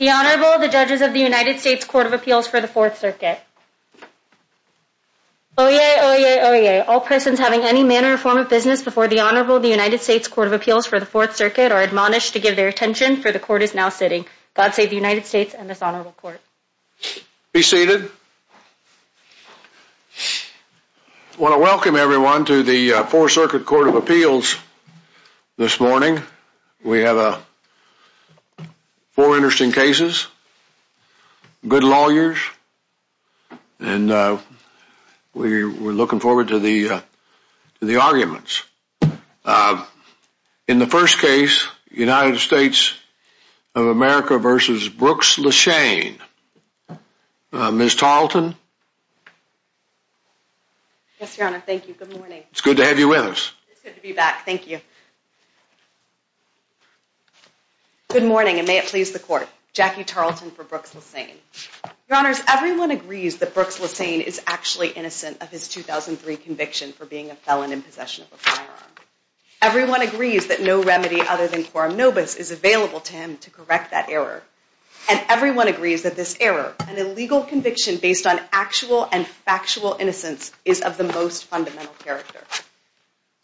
The Honorable, the Judges of the United States Court of Appeals for the Fourth Circuit. Oyez! Oyez! Oyez! All persons having any manner or form of business before the Honorable, the United States Court of Appeals for the Fourth Circuit are admonished to give their attention for the Court is now sitting. God Save the United States and this Honorable Court. Be seated. I want to welcome everyone to the Fourth Circuit Court of Appeals this morning. We have four interesting cases, good lawyers, and we're looking forward to the arguments. In the first Yes, Your Honor. Thank you. Good morning. It's good to have you with us. It's good to be back. Thank you. Good morning, and may it please the Court. Jackie Tarleton for Brooks Lesane. Your Honors, everyone agrees that Brooks Lesane is actually innocent of his 2003 conviction for being a felon in possession of a firearm. Everyone agrees that no remedy other than quorum nobis is available to him to correct that error. And everyone agrees that this error, an illegal conviction based on actual and factual innocence, is of the most fundamental character.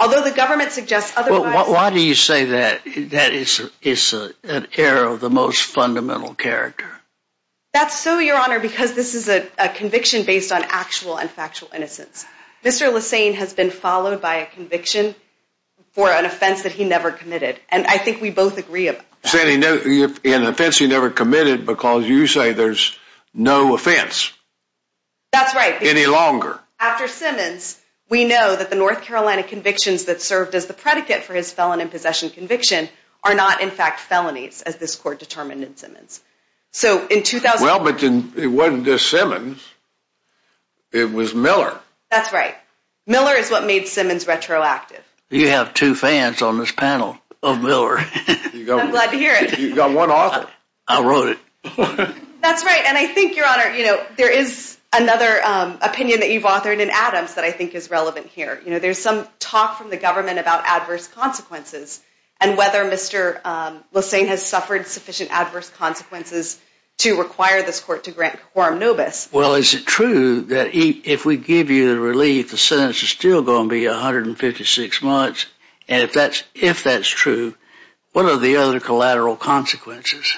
Although the government suggests otherwise... Why do you say that that is an error of the most fundamental character? That's so, Your Honor, because this is a conviction based on actual and factual innocence. Mr. Lesane has been followed by a conviction for an offense that he never committed, and I think we both agree about that. In an offense he never committed because you say there's no offense. That's right. Any longer. After Simmons, we know that the North Carolina convictions that served as the predicate for his felon in possession conviction are not in fact felonies as this Court determined in Simmons. Well, but it wasn't just Simmons. It was Miller. That's right. Miller is what made Simmons retroactive. You have two fans on this panel of Miller. I'm glad to hear it. You've got one author. I wrote it. That's right, and I think, Your Honor, there is another opinion that you've authored in Adams that I think is relevant here. There's some talk from the government about adverse consequences and whether Mr. Lesane has suffered sufficient adverse consequences to require this Court to grant quorum nobis. Well, is it true that if we give you the relief, the sentence is still going to be 156 months? And if that's true, what are the other collateral consequences?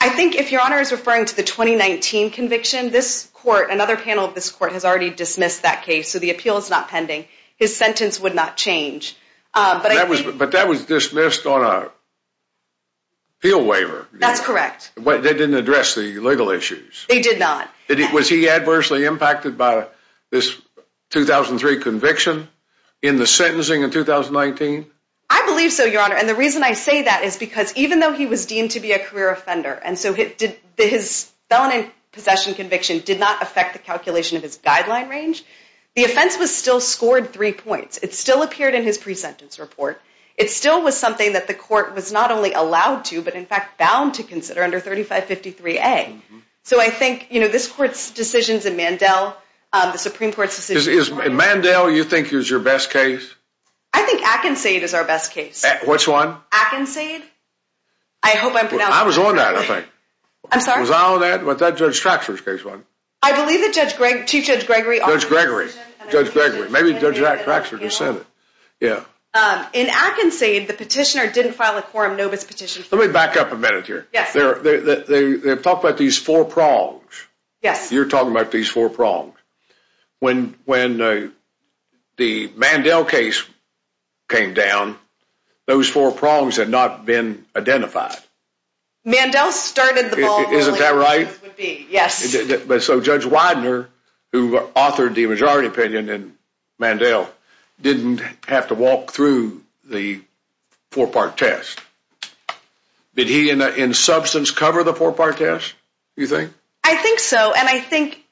I think if Your Honor is referring to the 2019 conviction, another panel of this Court has already dismissed that case, so the appeal is not pending. His sentence would not change. But that was dismissed on an appeal waiver. That's correct. They didn't address the legal issues. They did not. Was he adversely impacted by this 2003 conviction in the sentencing in 2019? I believe so, Your Honor. And the reason I say that is because even though he was deemed to be a career offender and so his felony possession conviction did not affect the calculation of his guideline range, the offense was still scored three points. It still appeared in his pre-sentence report. It still was something that the Court was not only allowed to, but in fact bound to consider under 3553A. So I think, you know, this Court's decisions in Mandel, the Supreme Court's decisions... Is Mandel, you think, is your best case? I think Atkinsade is our best case. Which one? Atkinsade. I hope I'm pronouncing that correctly. I was on that, I think. I'm sorry? Was I on that? Was that Judge Traxler's case, wasn't it? I believe that Chief Judge Gregory... Judge Gregory. Judge Gregory. Maybe Judge Jack Traxler just said it. Yeah. In Atkinsade, the petitioner didn't file a quorum nobis petition... Let me back up a minute here. Yes. Talk about these four prongs. Yes. You're talking about these four prongs. When the Mandel case came down, those four prongs had not been identified. Mandel started the ball rolling. Isn't that right? Yes. But so Judge Widener, who authored the majority opinion in Mandel, didn't have to walk through the four-part test. Did he, in substance, cover the four-part test, do you think? I think so, and I think,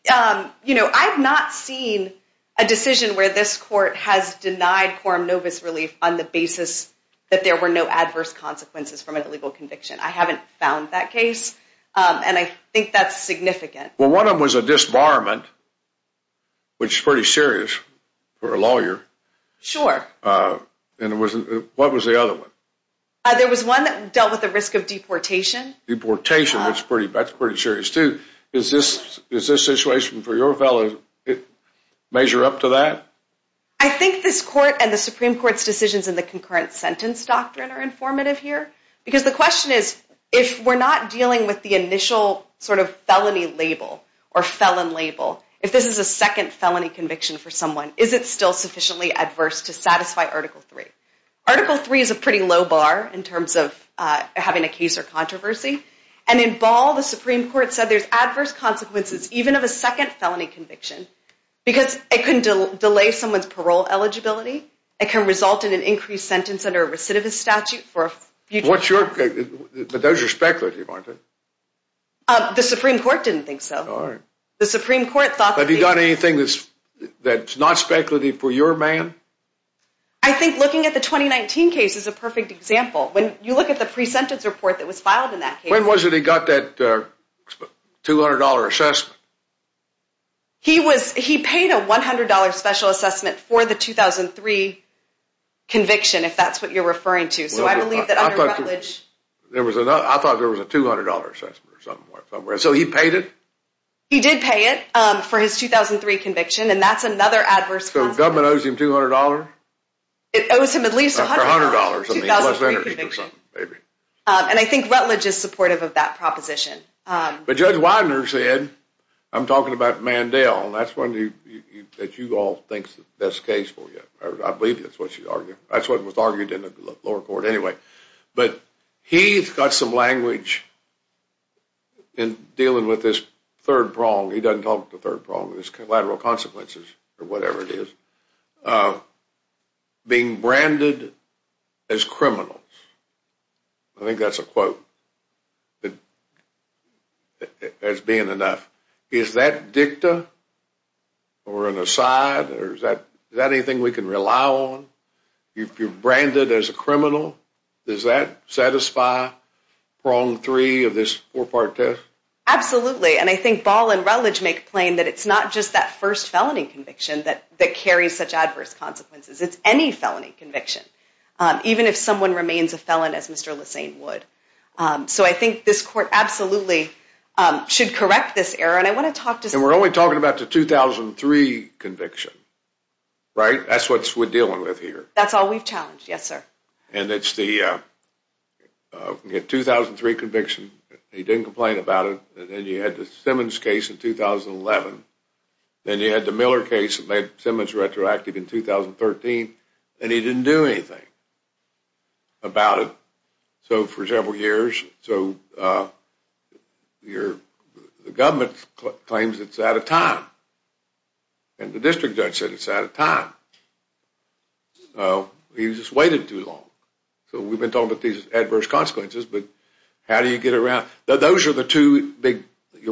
you know, I've not seen a decision where this court has denied quorum nobis relief on the basis that there were no adverse consequences from an illegal conviction. I haven't found that case, and I think that's significant. Well, one of them was a disbarment, which is pretty serious for a lawyer. Sure. And what was the other one? There was one that dealt with the risk of deportation. Deportation, that's pretty serious, too. Is this situation for your felon measure up to that? I think this court and the Supreme Court's decisions in the concurrent sentence doctrine are informative here, because the question is, if we're not dealing with the initial sort of felony label or felon label, if this is a second felony conviction for someone, is it still sufficiently adverse to satisfy Article III? Article III is a pretty low bar in terms of having a case or controversy, and in Ball, the Supreme Court said there's adverse consequences even of a second felony conviction, because it can delay someone's parole eligibility, it can result in an increased sentence under a recidivist statute for a future... What's your... but those are speculative, aren't they? The Supreme Court didn't think so. All right. The Supreme Court thought... Have you done anything that's not speculative for your man? I think looking at the 2019 case is a perfect example. When you look at the pre-sentence report that was filed in that case... When was it he got that $200 assessment? He was... he paid a $100 special assessment for the 2003 conviction, if that's what you're referring to. So I believe that under Rutledge... I thought there was a $200 assessment or something like that. So he paid it? He did pay it for his 2003 conviction, and that's another adverse... So the government owes him $200? It owes him at least $100 for the 2003 conviction. And I think Rutledge is supportive of that proposition. But Judge Widener said... I'm talking about Mandel, and that's one that you all think is the best case for you. I believe that's what she argued. That's what was argued in the lower court anyway. But he's got some language in dealing with this third prong. He doesn't talk about the third prong. It's collateral consequences, or whatever it is. Being branded as criminal. I think that's a quote. As being enough. Is that dicta or an aside? Is that anything we can rely on? You're branded as a criminal. Does that satisfy prong three of this four-part test? Absolutely. And I think Ball and Rutledge make plain that it's not just that first felony conviction that carries such adverse consequences. It's any felony conviction. Even if someone remains a felon as Mr. Lesane would. So I think this court absolutely should correct this error. And we're only talking about the 2003 conviction. Right? That's what we're dealing with here. That's all we've challenged. Yes, sir. And it's the 2003 conviction. He didn't complain about it. And then you had the Simmons case in 2011. Then you had the Miller case that made Simmons retroactive in 2013. And he didn't do anything about it. So for several years. So the government claims it's out of time. And the district judge said it's out of time. He just waited too long. So we've been talking about these adverse consequences. But how do you get around? Those are the two big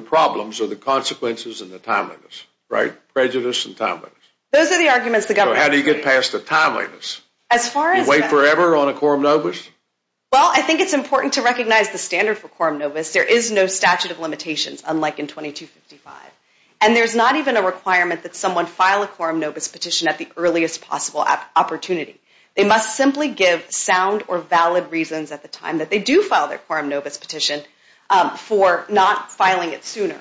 problems or the consequences and the timeliness. Right? Prejudice and timeliness. Those are the arguments the government is making. So how do you get past the timeliness? You wait forever on a quorum nobis? Well, I think it's important to recognize the standard for quorum nobis. There is no statute of limitations, unlike in 2255. And there's not even a requirement that someone file a quorum nobis petition at the earliest possible opportunity. They must simply give sound or valid reasons at the time that they do file their quorum nobis petition for not filing it sooner.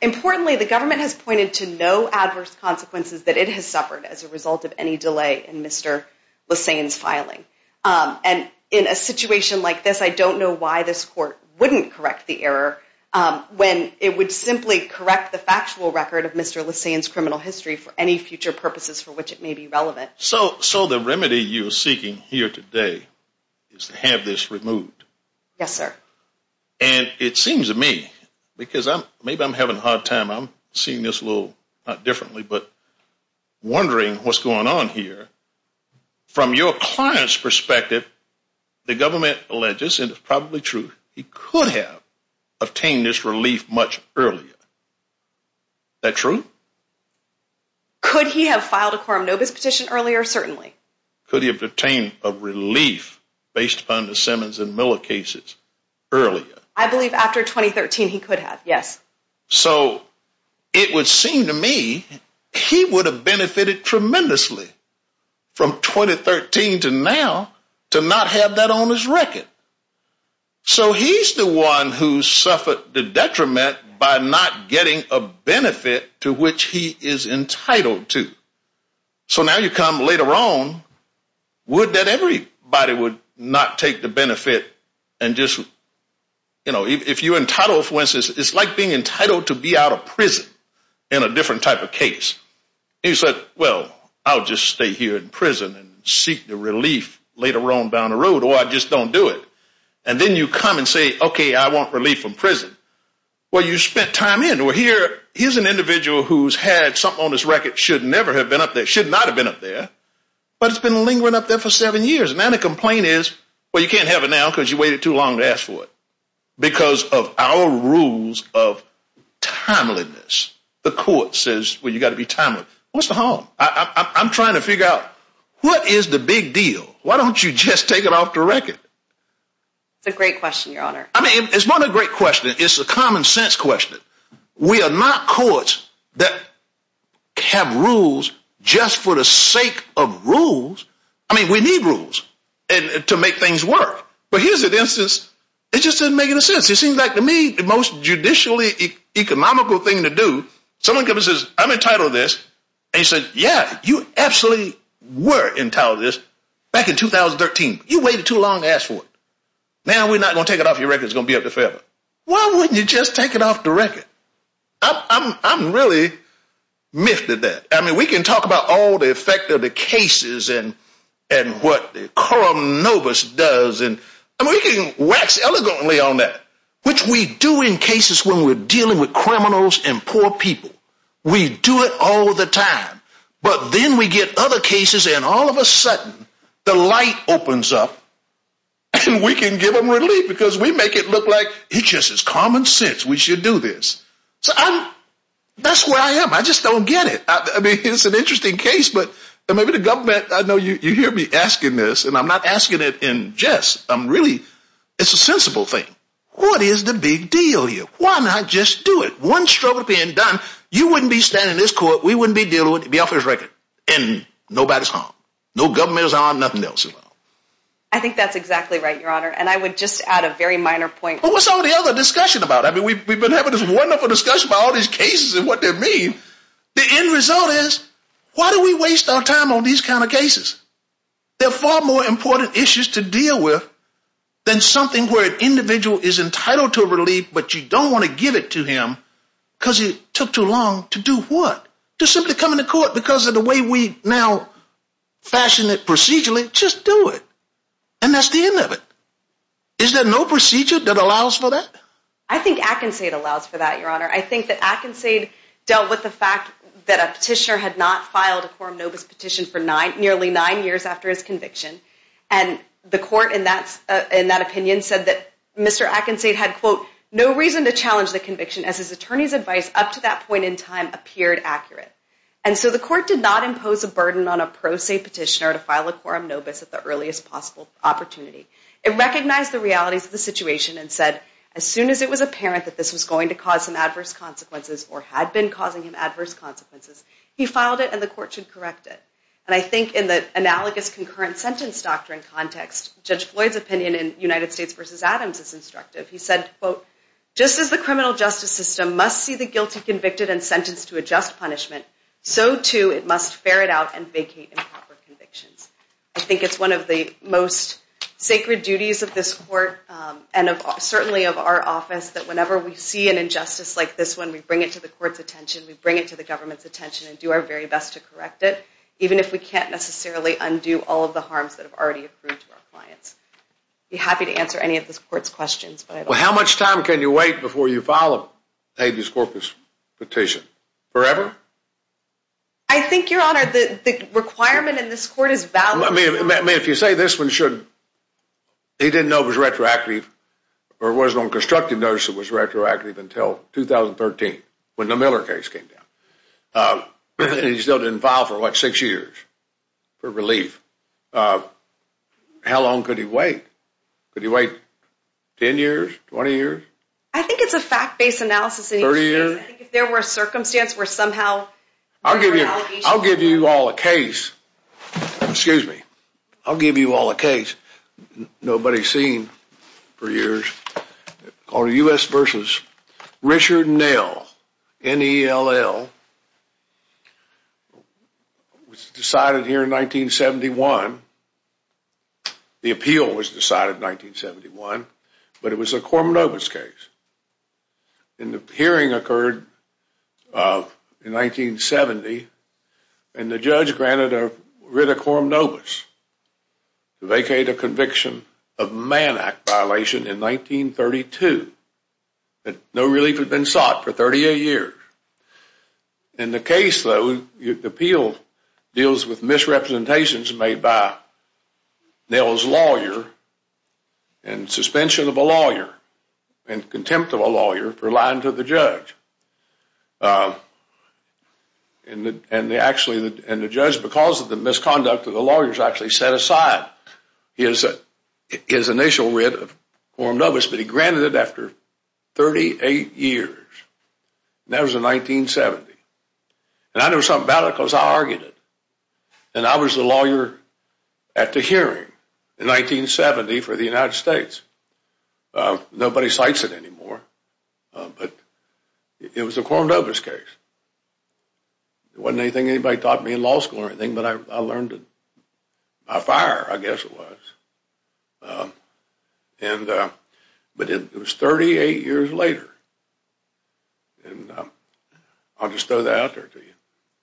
Importantly, the government has pointed to no adverse consequences that it has suffered as a result of any delay in Mr. Lissain's filing. And in a situation like this, I don't know why this court wouldn't correct the error when it would simply correct the factual record of Mr. Lissain's criminal history for any future purposes for which it may be relevant. So the remedy you're seeking here today is to have this removed. Yes, sir. And it seems to me, because maybe I'm having a hard time, I'm seeing this a little differently, but wondering what's going on here. From your client's perspective, the government alleges, and it's probably true, he could have obtained this relief much earlier. Is that true? Could he have filed a quorum nobis petition earlier? Certainly. Could he have obtained a relief based upon the Simmons and Miller cases earlier? I believe after 2013 he could have, yes. So it would seem to me he would have benefited tremendously from 2013 to now to not have that on his record. So he's the one who suffered the detriment by not getting a benefit to which he is entitled to. So now you come later on, would that everybody would not take the benefit and just, you know, if you're entitled, for instance, it's like being entitled to be out of prison in a different type of case. He said, well, I'll just stay here in prison and seek the relief later on down the road or I just don't do it. And then you come and say, okay, I want relief from prison. Well, you spent time in. Well, here's an individual who's had something on his record, should never have been up there, should not have been up there, but it's been lingering up there for seven years. Now the complaint is, well, you can't have it now because you waited too long to ask for it because of our rules of timeliness. The court says, well, you've got to be timely. What's the harm? I'm trying to figure out what is the big deal. Why don't you just take it off the record? It's a great question, Your Honor. I mean, it's not a great question. It's a common sense question. We are not courts that have rules just for the sake of rules. I mean, we need rules to make things work. But here's an instance. It just doesn't make any sense. It seems like to me the most judicially economical thing to do, someone comes and says, I'm entitled to this. And you say, yeah, you absolutely were entitled to this back in 2013. You waited too long to ask for it. Now we're not going to take it off your record. It's going to be up there forever. Why wouldn't you just take it off the record? I'm really miffed at that. I mean, we can talk about all the effect of the cases and what Coram Novus does, and we can wax elegantly on that, which we do in cases when we're dealing with criminals and poor people. We do it all the time. But then we get other cases and all of a sudden the light opens up and we can give them relief because we make it look like it's just common sense. We should do this. So that's where I am. I just don't get it. I mean, it's an interesting case, but maybe the government, I know you hear me asking this, and I'm not asking it in jest. I'm really, it's a sensible thing. What is the big deal here? Why not just do it? One struggle being done, you wouldn't be standing in this court, we wouldn't be dealing with it off the record, and nobody's harmed. No government is harmed, nothing else is harmed. I think that's exactly right, Your Honor, and I would just add a very minor point. But what's all the other discussion about? I mean, we've been having this wonderful discussion about all these cases and what they mean. The end result is why do we waste our time on these kind of cases? They're far more important issues to deal with than something where an individual is entitled to a relief but you don't want to give it to him because it took too long to do what? To simply come into court because of the way we now fashion it procedurally? Just do it. And that's the end of it. Is there no procedure that allows for that? I think Atkinsade allows for that, Your Honor. I think that Atkinsade dealt with the fact that a petitioner had not filed a quorum novus petition for nearly nine years after his conviction, and the court in that opinion said that Mr. Atkinsade had, quote, no reason to challenge the conviction as his attorney's advice up to that point in time appeared accurate. And so the court did not impose a burden on a pro se petitioner to file a quorum novus at the earliest possible opportunity. It recognized the realities of the situation and said as soon as it was apparent that this was going to cause some adverse consequences or had been causing him adverse consequences, he filed it and the court should correct it. And I think in the analogous concurrent sentence doctrine context, Judge Floyd's opinion in United States v. Adams is instructive. He said, quote, just as the criminal justice system must see the guilty convicted and sentenced to a just punishment, so too it must ferret out and vacate improper convictions. I think it's one of the most sacred duties of this court and certainly of our office that whenever we see an injustice like this one, we bring it to the court's attention, we bring it to the government's attention and do our very best to correct it, even if we can't necessarily undo all of the harms that have already occurred to our clients. I'd be happy to answer any of this court's questions. Well, how much time can you wait before you file a habeas corpus petition? Forever? I think, Your Honor, the requirement in this court is valid. I mean, if you say this one should, he didn't know it was retroactive or wasn't on constructive notice it was retroactive until 2013 when the Miller case came down. He still didn't file for, what, six years for relief. How long could he wait? Could he wait 10 years, 20 years? I think it's a fact-based analysis. 30 years? I think if there were a circumstance where somehow there were allegations. I'll give you all a case. Excuse me. I'll give you all a case nobody's seen for years called U.S. v. Richard Nell, N-E-L-L. It was decided here in 1971. The appeal was decided in 1971. But it was a quorum nobis case. And the hearing occurred in 1970, and the judge granted a writ of quorum nobis to vacate a conviction of man act violation in 1932. No relief had been sought for 38 years. In the case, though, the appeal deals with misrepresentations made by Nell's lawyer and suspension of a lawyer and contempt of a lawyer for lying to the judge. And the judge, because of the misconduct of the lawyers, actually set aside his initial writ of quorum nobis, but he granted it after 38 years. And that was in 1970. And I know something about it because I argued it. And I was the lawyer at the hearing in 1970 for the United States. Nobody cites it anymore. But it was a quorum nobis case. It wasn't anything anybody taught me in law school or anything, but I learned it by fire, I guess it was. But it was 38 years later. And I'll just throw that out there to you.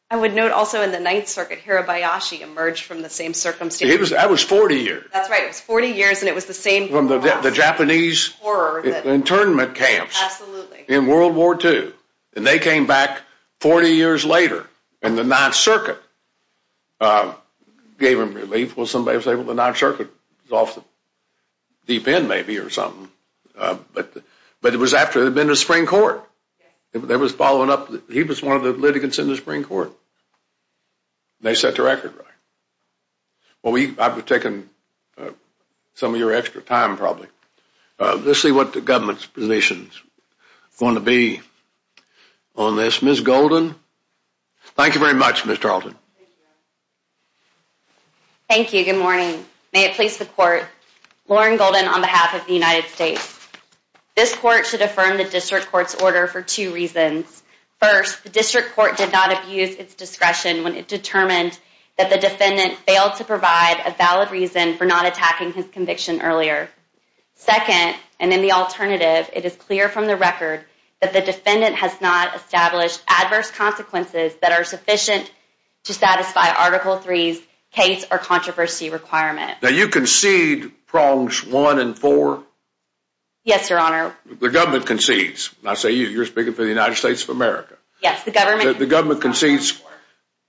I would note also in the Ninth Circuit, Hirabayashi emerged from the same circumstance. That was 40 years. That's right. It was 40 years, and it was the same. From the Japanese internment camps in World War II. And they came back 40 years later in the Ninth Circuit. Gave them relief. Well, somebody was able to, the Ninth Circuit was off the deep end maybe or something. But it was after they'd been to the Supreme Court. They was following up. He was one of the litigants in the Supreme Court. They set the record right. Well, I've been taking some of your extra time probably. Let's see what the government's position is going to be on this. Ms. Golden. Thank you very much, Ms. Tarleton. Thank you. Good morning. May it please the Court. Lauren Golden on behalf of the United States. This Court should affirm the District Court's order for two reasons. First, the District Court did not abuse its discretion when it determined that the defendant failed to provide a valid reason for not attacking his conviction earlier. Second, and in the alternative, it is clear from the record that the defendant has not established adverse consequences that are sufficient to satisfy Article III's case or controversy requirement. Now, you concede prongs one and four? Yes, Your Honor. The government concedes. I say you. You're speaking for the United States of America. Yes, the government. The government concedes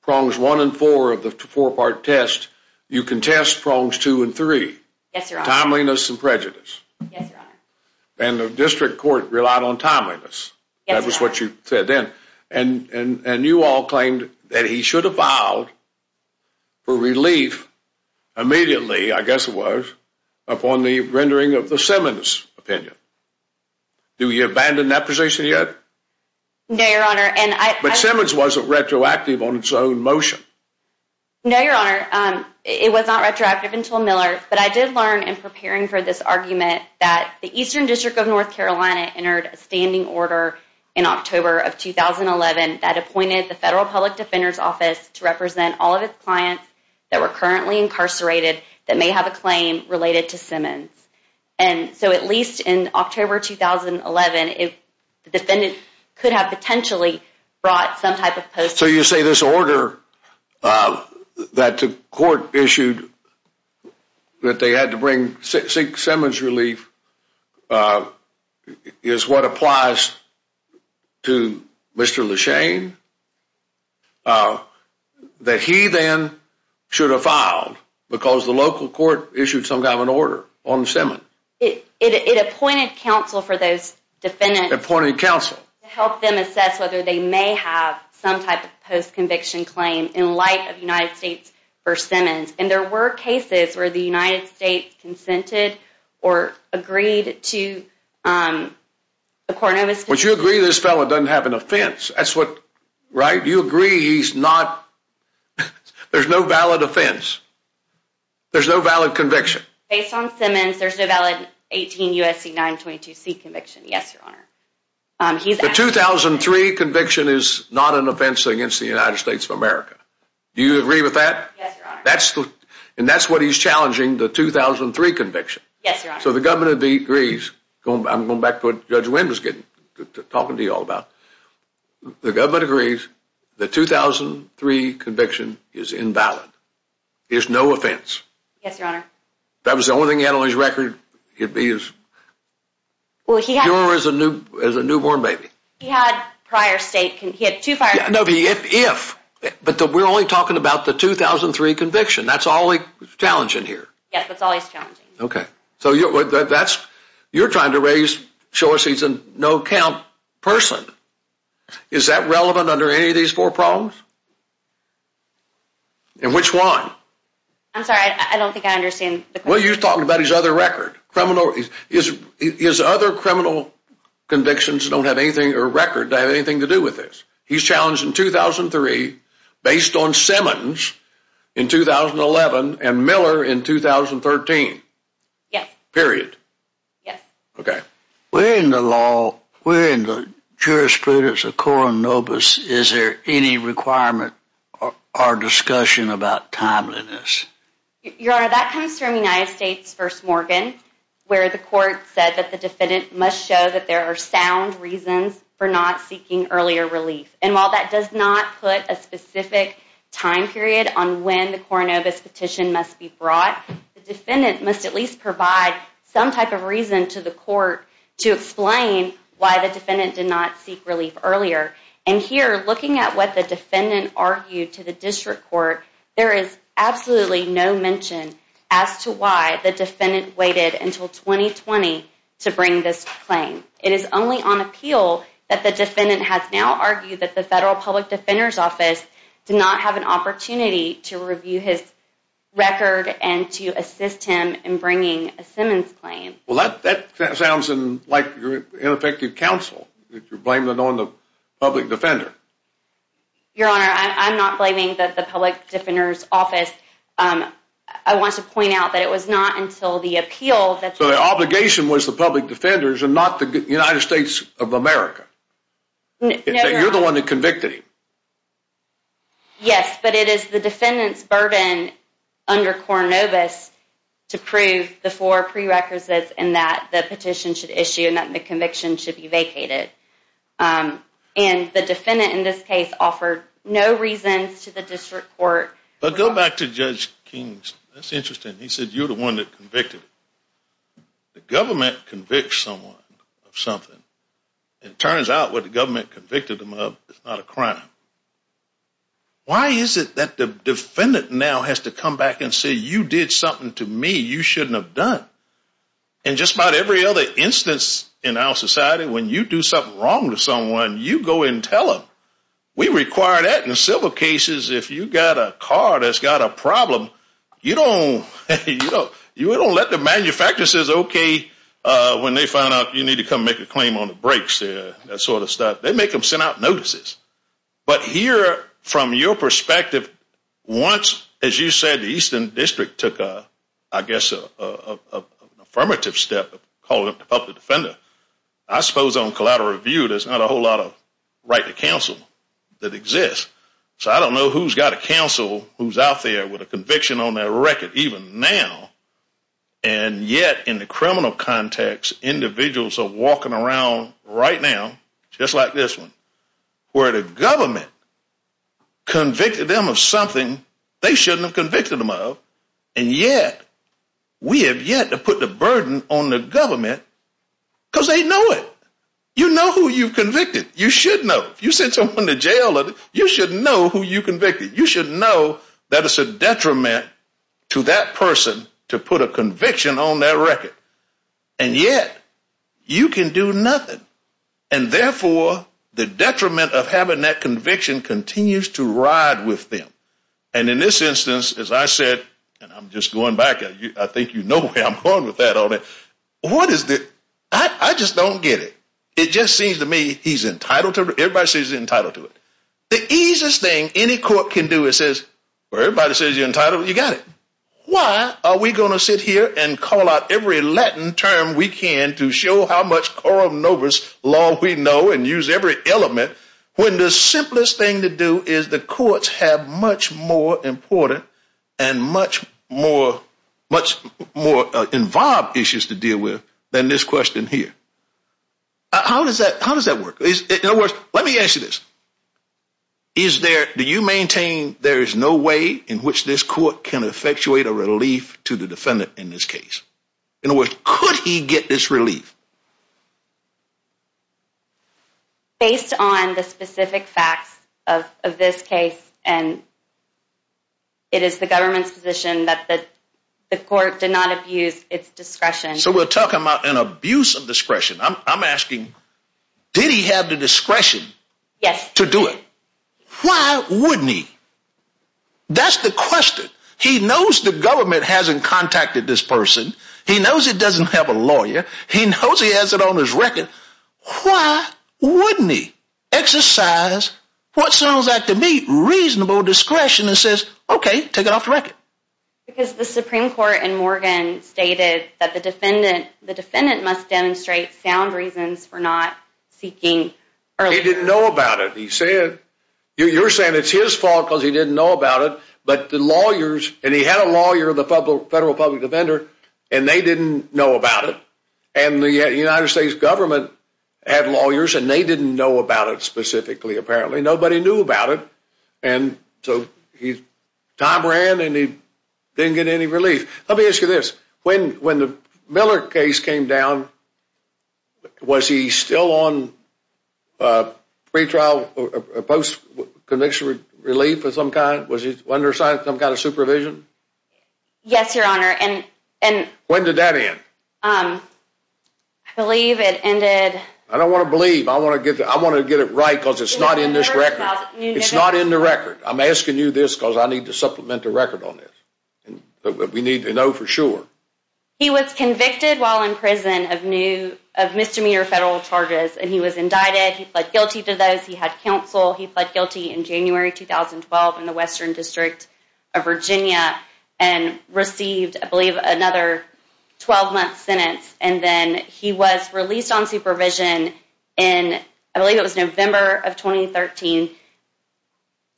prongs one and four of the four-part test. You contest prongs two and three. Yes, Your Honor. Timeliness and prejudice. Yes, Your Honor. And the District Court relied on timeliness. Yes, Your Honor. That was what you said then. And you all claimed that he should have filed for relief immediately, I guess it was, upon the rendering of the Simmons opinion. Do you abandon that position yet? No, Your Honor. But Simmons wasn't retroactive on its own motion. No, Your Honor. It was not retroactive until Miller, but I did learn in preparing for this argument that the Eastern District of North Carolina entered a standing order in October of 2011 that appointed the Federal Public Defender's Office to represent all of its clients that were currently incarcerated that may have a claim related to Simmons. And so at least in October 2011, the defendant could have potentially brought some type of post-mortem. So you say this order that the court issued that they had to bring Simmons relief is what applies to Mr. LeShane that he then should have filed because the local court issued some kind of an order on Simmons? It appointed counsel for those defendants. Appointed counsel. To help them assess whether they may have some type of post-conviction claim in light of United States v. Simmons. And there were cases where the United States consented or agreed to a Cornovus conviction. But you agree this fellow doesn't have an offense. That's what, right? You agree he's not, there's no valid offense. There's no valid conviction. Based on Simmons, there's no valid 18 U.S.C. 922C conviction. Yes, Your Honor. The 2003 conviction is not an offense against the United States of America. Do you agree with that? Yes, Your Honor. And that's what he's challenging, the 2003 conviction. Yes, Your Honor. So the government agrees. I'm going back to what Judge Wynn was talking to you all about. The government agrees the 2003 conviction is invalid. There's no offense. Yes, Your Honor. If that was the only thing he had on his record, he'd be as pure as a newborn baby. He had prior state, he had two prior states. No, the if, but we're only talking about the 2003 conviction. That's all he's challenging here. Yes, that's all he's challenging. Okay. So you're trying to show us he's a no-count person. Is that relevant under any of these four problems? And which one? I'm sorry, I don't think I understand the question. Well, you're talking about his other record. His other criminal convictions don't have anything, or record, that have anything to do with this. He's challenged in 2003, based on Simmons in 2011, and Miller in 2013. Yes. Period. Yes. Okay. We're in the law, we're in the jurisprudence of Coronobus. Is there any requirement or discussion about timeliness? Your Honor, that comes from United States v. Morgan, where the court said that the defendant must show that there are sound reasons for not seeking earlier relief. And while that does not put a specific time period on when the Coronobus petition must be brought, the defendant must at least provide some type of reason to the court to explain why the defendant did not seek relief earlier. And here, looking at what the defendant argued to the district court, there is absolutely no mention as to why the defendant waited until 2020 to bring this claim. It is only on appeal that the defendant has now argued that the Federal Public Defender's Office did not have an opportunity to review his record and to assist him in bringing a Simmons claim. Well, that sounds like you're ineffective counsel, that you're blaming it on the public defender. Your Honor, I'm not blaming the Public Defender's Office. I want to point out that it was not until the appeal that you... So the obligation was the public defenders and not the United States of America. You're the one that convicted him. Yes, but it is the defendant's burden under Coronobus to prove the four prerequisites in that the petition should issue and that the conviction should be vacated. And the defendant in this case offered no reasons to the district court. But go back to Judge King's. That's interesting. He said you're the one that convicted him. The government convicts someone of something. It turns out what the government convicted him of is not a crime. Why is it that the defendant now has to come back and say, you did something to me you shouldn't have done? In just about every other instance in our society, when you do something wrong to someone, you go and tell them. We require that in civil cases. If you've got a car that's got a problem, you don't let the manufacturers say, okay, when they find out you need to come make a claim on the brakes, that sort of stuff. They make them send out notices. But here, from your perspective, once, as you said, the Eastern District took, I guess, an affirmative step of calling up the public defender. I suppose on collateral review, there's not a whole lot of right to counsel that exists. So I don't know who's got a counsel who's out there with a conviction on their record, even now. And yet, in the criminal context, individuals are walking around right now, just like this one, where the government convicted them of something they shouldn't have convicted them of. And yet, we have yet to put the burden on the government because they know it. You know who you've convicted. You should know. If you send someone to jail, you should know who you convicted. You should know that it's a detriment to that person to put a conviction on their record. And yet, you can do nothing. And therefore, the detriment of having that conviction continues to ride with them. And in this instance, as I said, and I'm just going back. I think you know where I'm going with that on it. What is the – I just don't get it. It just seems to me he's entitled to it. Everybody says he's entitled to it. The easiest thing any court can do is says, well, everybody says you're entitled. You got it. Why are we going to sit here and call out every Latin term we can to show how much Corum Novus law we know and use every element when the simplest thing to do is the courts have much more important and much more involved issues to deal with than this question here. How does that work? In other words, let me ask you this. Do you maintain there is no way in which this court can effectuate a relief to the defendant in this case? Based on the specific facts of this case and it is the government's position that the court did not abuse its discretion. So we're talking about an abuse of discretion. I'm asking, did he have the discretion to do it? Yes. Why wouldn't he? That's the question. He knows the government hasn't contacted this person. He knows it doesn't have a lawyer. He knows he has it on his record. Why wouldn't he exercise what sounds like to me reasonable discretion and says, okay, take it off the record. Because the Supreme Court in Morgan stated that the defendant must demonstrate sound reasons for not seeking earlier. He didn't know about it. You're saying it's his fault because he didn't know about it. And he had a lawyer, the federal public defender, and they didn't know about it. And the United States government had lawyers and they didn't know about it specifically apparently. Nobody knew about it. And so time ran and he didn't get any relief. Let me ask you this. When the Miller case came down, was he still on pre-trial or post-conviction relief of some kind? Was he under some kind of supervision? Yes, Your Honor. When did that end? I believe it ended. I don't want to believe. I want to get it right because it's not in this record. It's not in the record. I'm asking you this because I need to supplement the record on this. We need to know for sure. He was convicted while in prison of misdemeanor federal charges. And he was indicted. He pled guilty to those. He had counsel. He pled guilty in January 2012 in the Western District of Virginia and received, I believe, another 12-month sentence. And then he was released on supervision in, I believe it was November of 2013,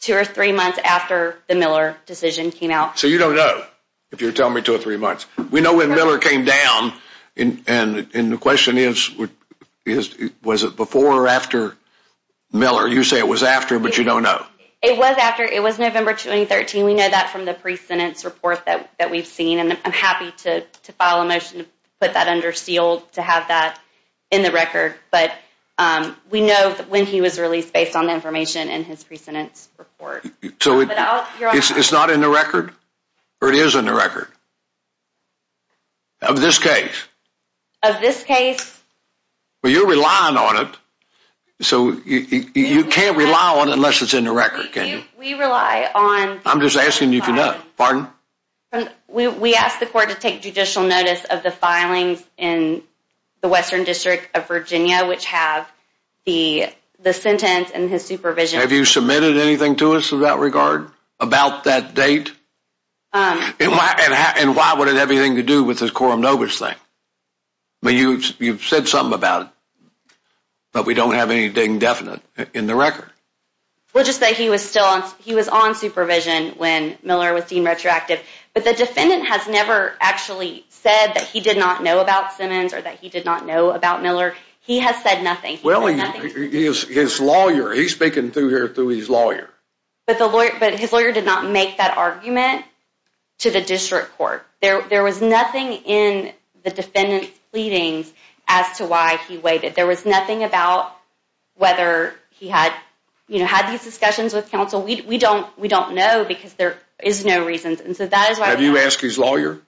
two or three months after the Miller decision came out. So you don't know if you're telling me two or three months. We know when Miller came down. And the question is, was it before or after Miller? You say it was after, but you don't know. It was after. It was November 2013. We know that from the pre-sentence report that we've seen. And I'm happy to file a motion to put that under seal to have that in the record. But we know when he was released based on the information in his pre-sentence report. So it's not in the record or it is in the record of this case? Of this case. Well, you're relying on it. So you can't rely on it unless it's in the record, can you? We rely on. I'm just asking you if you know. Pardon? We ask the court to take judicial notice of the filings in the Western District of Virginia, which have the sentence and his supervision. Have you submitted anything to us in that regard about that date? And why would it have anything to do with the Coram Novus thing? You've said something about it, but we don't have anything definite in the record. Well, just that he was on supervision when Miller was deemed retroactive. But the defendant has never actually said that he did not know about Simmons or that he did not know about Miller. He has said nothing. Well, he is his lawyer. He's speaking through his lawyer. But his lawyer did not make that argument to the district court. There was nothing in the defendant's pleadings as to why he waited. There was nothing about whether he had these discussions with counsel. We don't know because there is no reason. Have you asked his lawyer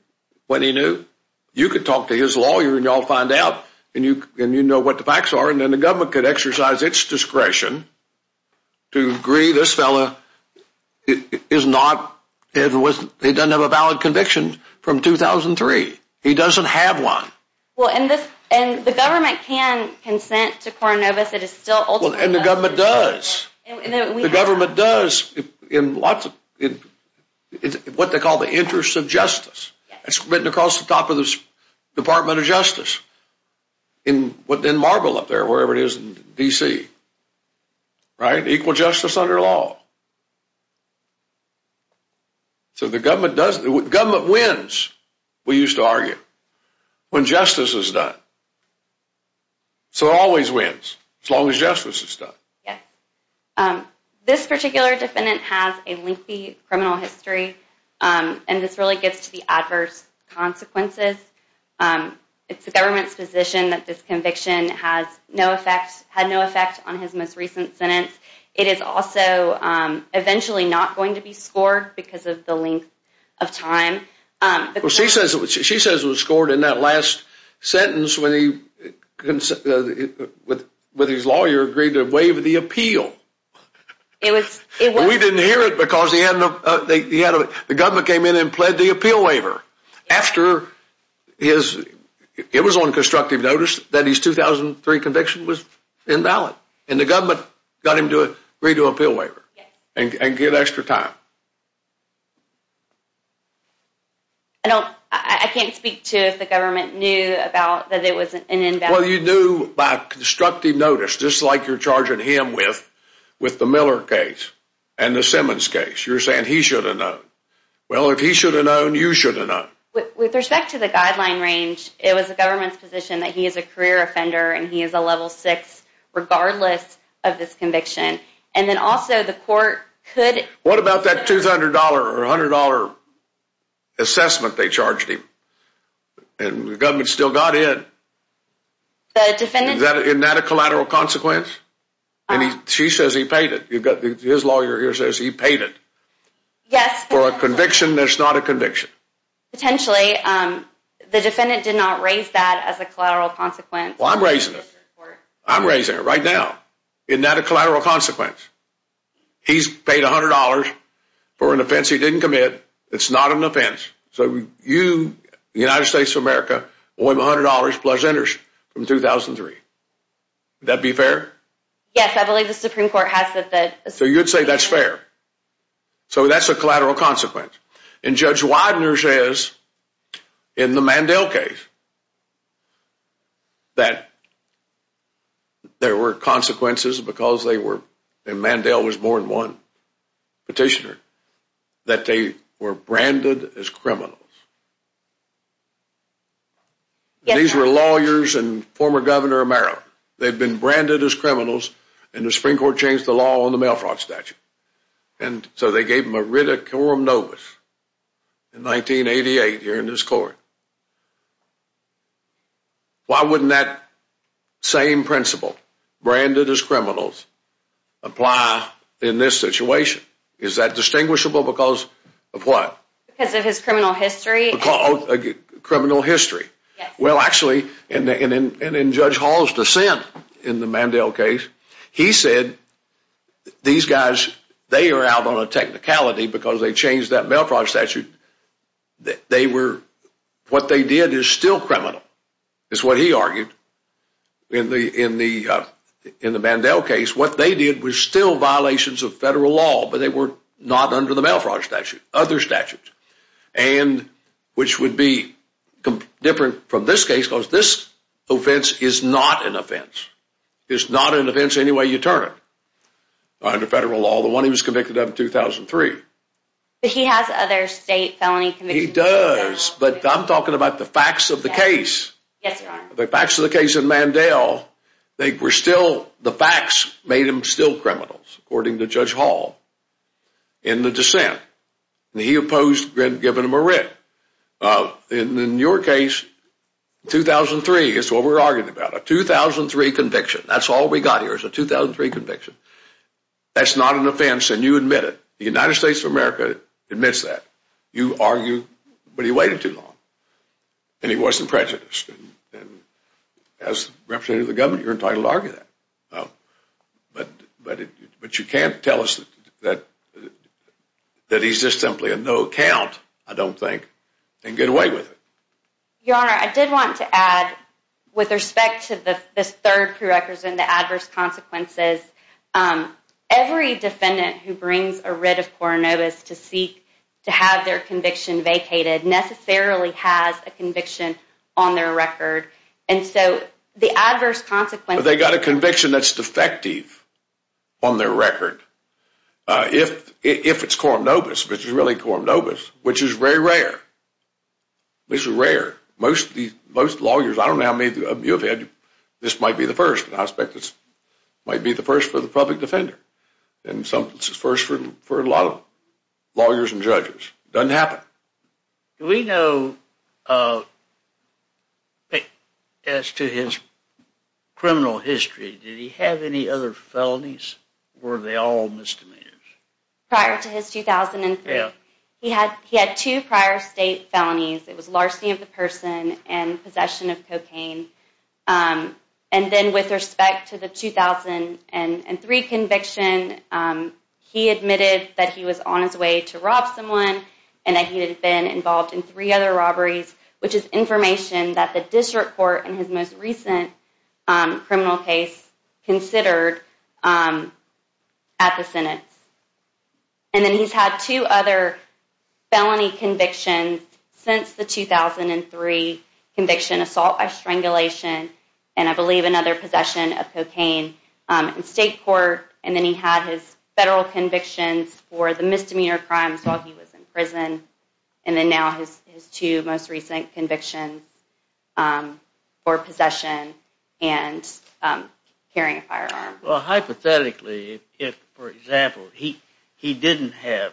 what he knew? You could talk to his lawyer and you'll find out and you know what the facts are. And then the government could exercise its discretion to agree this fellow is not, he doesn't have a valid conviction from 2003. He doesn't have one. And the government can consent to Coram Novus. And the government does. The government does in what they call the interest of justice. It's written across the top of the Department of Justice. In Marble up there, wherever it is in D.C. Right? Equal justice under law. So the government wins, we used to argue, when justice is done. So it always wins as long as justice is done. Yes. This particular defendant has a lengthy criminal history. And this really gets to the adverse consequences. It's the government's position that this conviction had no effect on his most recent sentence. It is also eventually not going to be scored because of the length of time. She says it was scored in that last sentence when he, with his lawyer, agreed to waive the appeal. We didn't hear it because the government came in and pled the appeal waiver. After his, it was on constructive notice that his 2003 conviction was invalid. And the government got him to agree to appeal waiver. And get extra time. I don't, I can't speak to if the government knew about that it was an invalid. Well you knew by constructive notice, just like you're charging him with, with the Miller case. And the Simmons case. You're saying he should have known. Well if he should have known, you should have known. With respect to the guideline range, it was the government's position that he is a career offender. And he is a level six regardless of this conviction. And then also the court could. What about that $200 or $100 assessment they charged him? And the government still got in. The defendant. Isn't that a collateral consequence? She says he paid it. His lawyer here says he paid it. Yes. For a conviction that's not a conviction. Potentially. The defendant did not raise that as a collateral consequence. Well I'm raising it. I'm raising it right now. Isn't that a collateral consequence? He's paid $100 for an offense he didn't commit. It's not an offense. So you, the United States of America, owe him $100 plus interest from 2003. Would that be fair? Yes, I believe the Supreme Court has said that. So you'd say that's fair. So that's a collateral consequence. And Judge Widener says in the Mandel case that there were consequences because they were, and Mandel was more than one petitioner, that they were branded as criminals. These were lawyers and former Governor Amaro. They'd been branded as criminals and the Supreme Court changed the law on the mail fraud statute. And so they gave him a writ of coram nobis in 1988 here in this court. Why wouldn't that same principle, branded as criminals, apply in this situation? Is that distinguishable because of what? Because of his criminal history. Criminal history. Well, actually, and in Judge Hall's dissent in the Mandel case, he said these guys, they are out on a technicality because they changed that mail fraud statute. They were, what they did is still criminal, is what he argued in the Mandel case. What they did was still violations of federal law, but they were not under the mail fraud statute. Other statutes. And which would be different from this case because this offense is not an offense. It's not an offense any way you turn it. Under federal law, the one he was convicted of in 2003. But he has other state felony convictions. He does, but I'm talking about the facts of the case. Yes, Your Honor. The facts of the case in Mandel, they were still, the facts made him still criminals, according to Judge Hall in the dissent. And he opposed giving him a writ. And in your case, 2003 is what we're arguing about. A 2003 conviction. That's all we got here is a 2003 conviction. That's not an offense and you admit it. The United States of America admits that. You argue, but he waited too long. And he wasn't prejudiced. And as representative of the government, you're entitled to argue that. But you can't tell us that he's just simply a no count, I don't think. And get away with it. Your Honor, I did want to add with respect to this third prerequisite and the adverse consequences. Every defendant who brings a writ of Coronavis to seek to have their conviction vacated necessarily has a conviction on their record. And so the adverse consequences. But they got a conviction that's defective on their record. If it's Coronavis, which is really Coronavis, which is very rare. This is rare. Most lawyers, I don't know how many of you have had, this might be the first, but I suspect this might be the first for the public defender. And sometimes it's the first for a lot of lawyers and judges. Doesn't happen. Do we know, as to his criminal history, did he have any other felonies? Were they all misdemeanors? Prior to his 2003, he had two prior state felonies. It was larceny of the person and possession of cocaine. And then with respect to the 2003 conviction, he admitted that he was on his way to rob someone and that he had been involved in three other robberies, which is information that the district court in his most recent criminal case considered at the Senate. And then he's had two other felony convictions since the 2003 conviction, assault by strangulation and, I believe, another possession of cocaine in state court. And then he had his federal convictions for the misdemeanor crimes while he was in prison. And then now his two most recent convictions for possession and carrying a firearm. Well, hypothetically, if, for example, he didn't have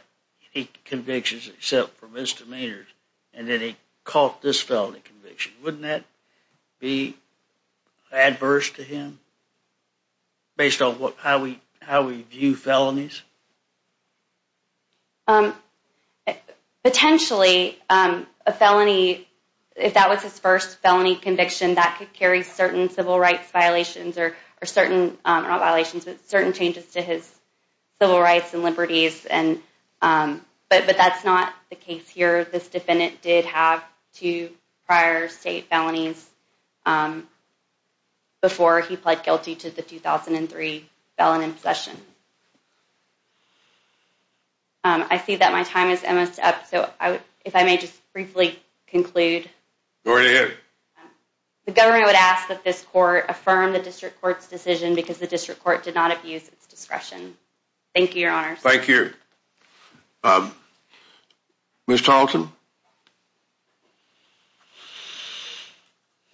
any convictions except for misdemeanors and then he caught this felony conviction, wouldn't that be adverse to him based on how we view felonies? Potentially, a felony, if that was his first felony conviction, that could carry certain civil rights violations or certain, not violations, but certain changes to his civil rights and liberties. But that's not the case here. This defendant did have two prior state felonies before he pled guilty to the 2003 felon in possession. I see that my time is almost up, so if I may just briefly conclude. Go right ahead. The government would ask that this court affirm the district court's decision because the district court did not abuse its discretion. Thank you, Your Honor. Thank you. Thank you. Ms. Tarleton?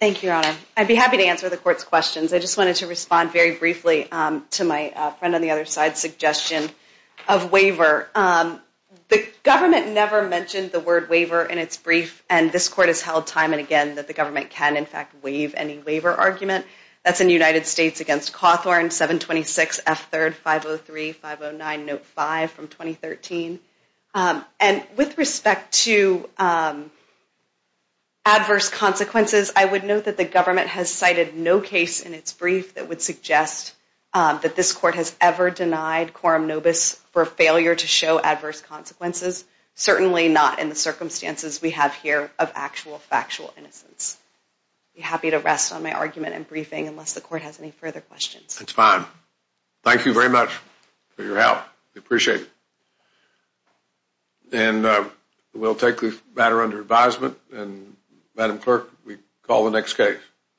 Thank you, Your Honor. I'd be happy to answer the court's questions. I just wanted to respond very briefly to my friend on the other side's suggestion of waiver. The government never mentioned the word waiver in its brief, and this court has held time and again that the government can, in fact, waive any waiver argument. That's in the United States against Cawthorn, 726 F3rd 503 509 Note 5 from 2013. And with respect to adverse consequences, I would note that the government has cited no case in its brief that would suggest that this court has ever denied quorum nobis for failure to show adverse consequences, certainly not in the circumstances we have here of actual factual innocence. I'd be happy to rest on my argument in briefing unless the court has any further questions. That's fine. Thank you very much for your help. We appreciate it. And we'll take the matter under advisement, and Madam Clerk, we call the next case.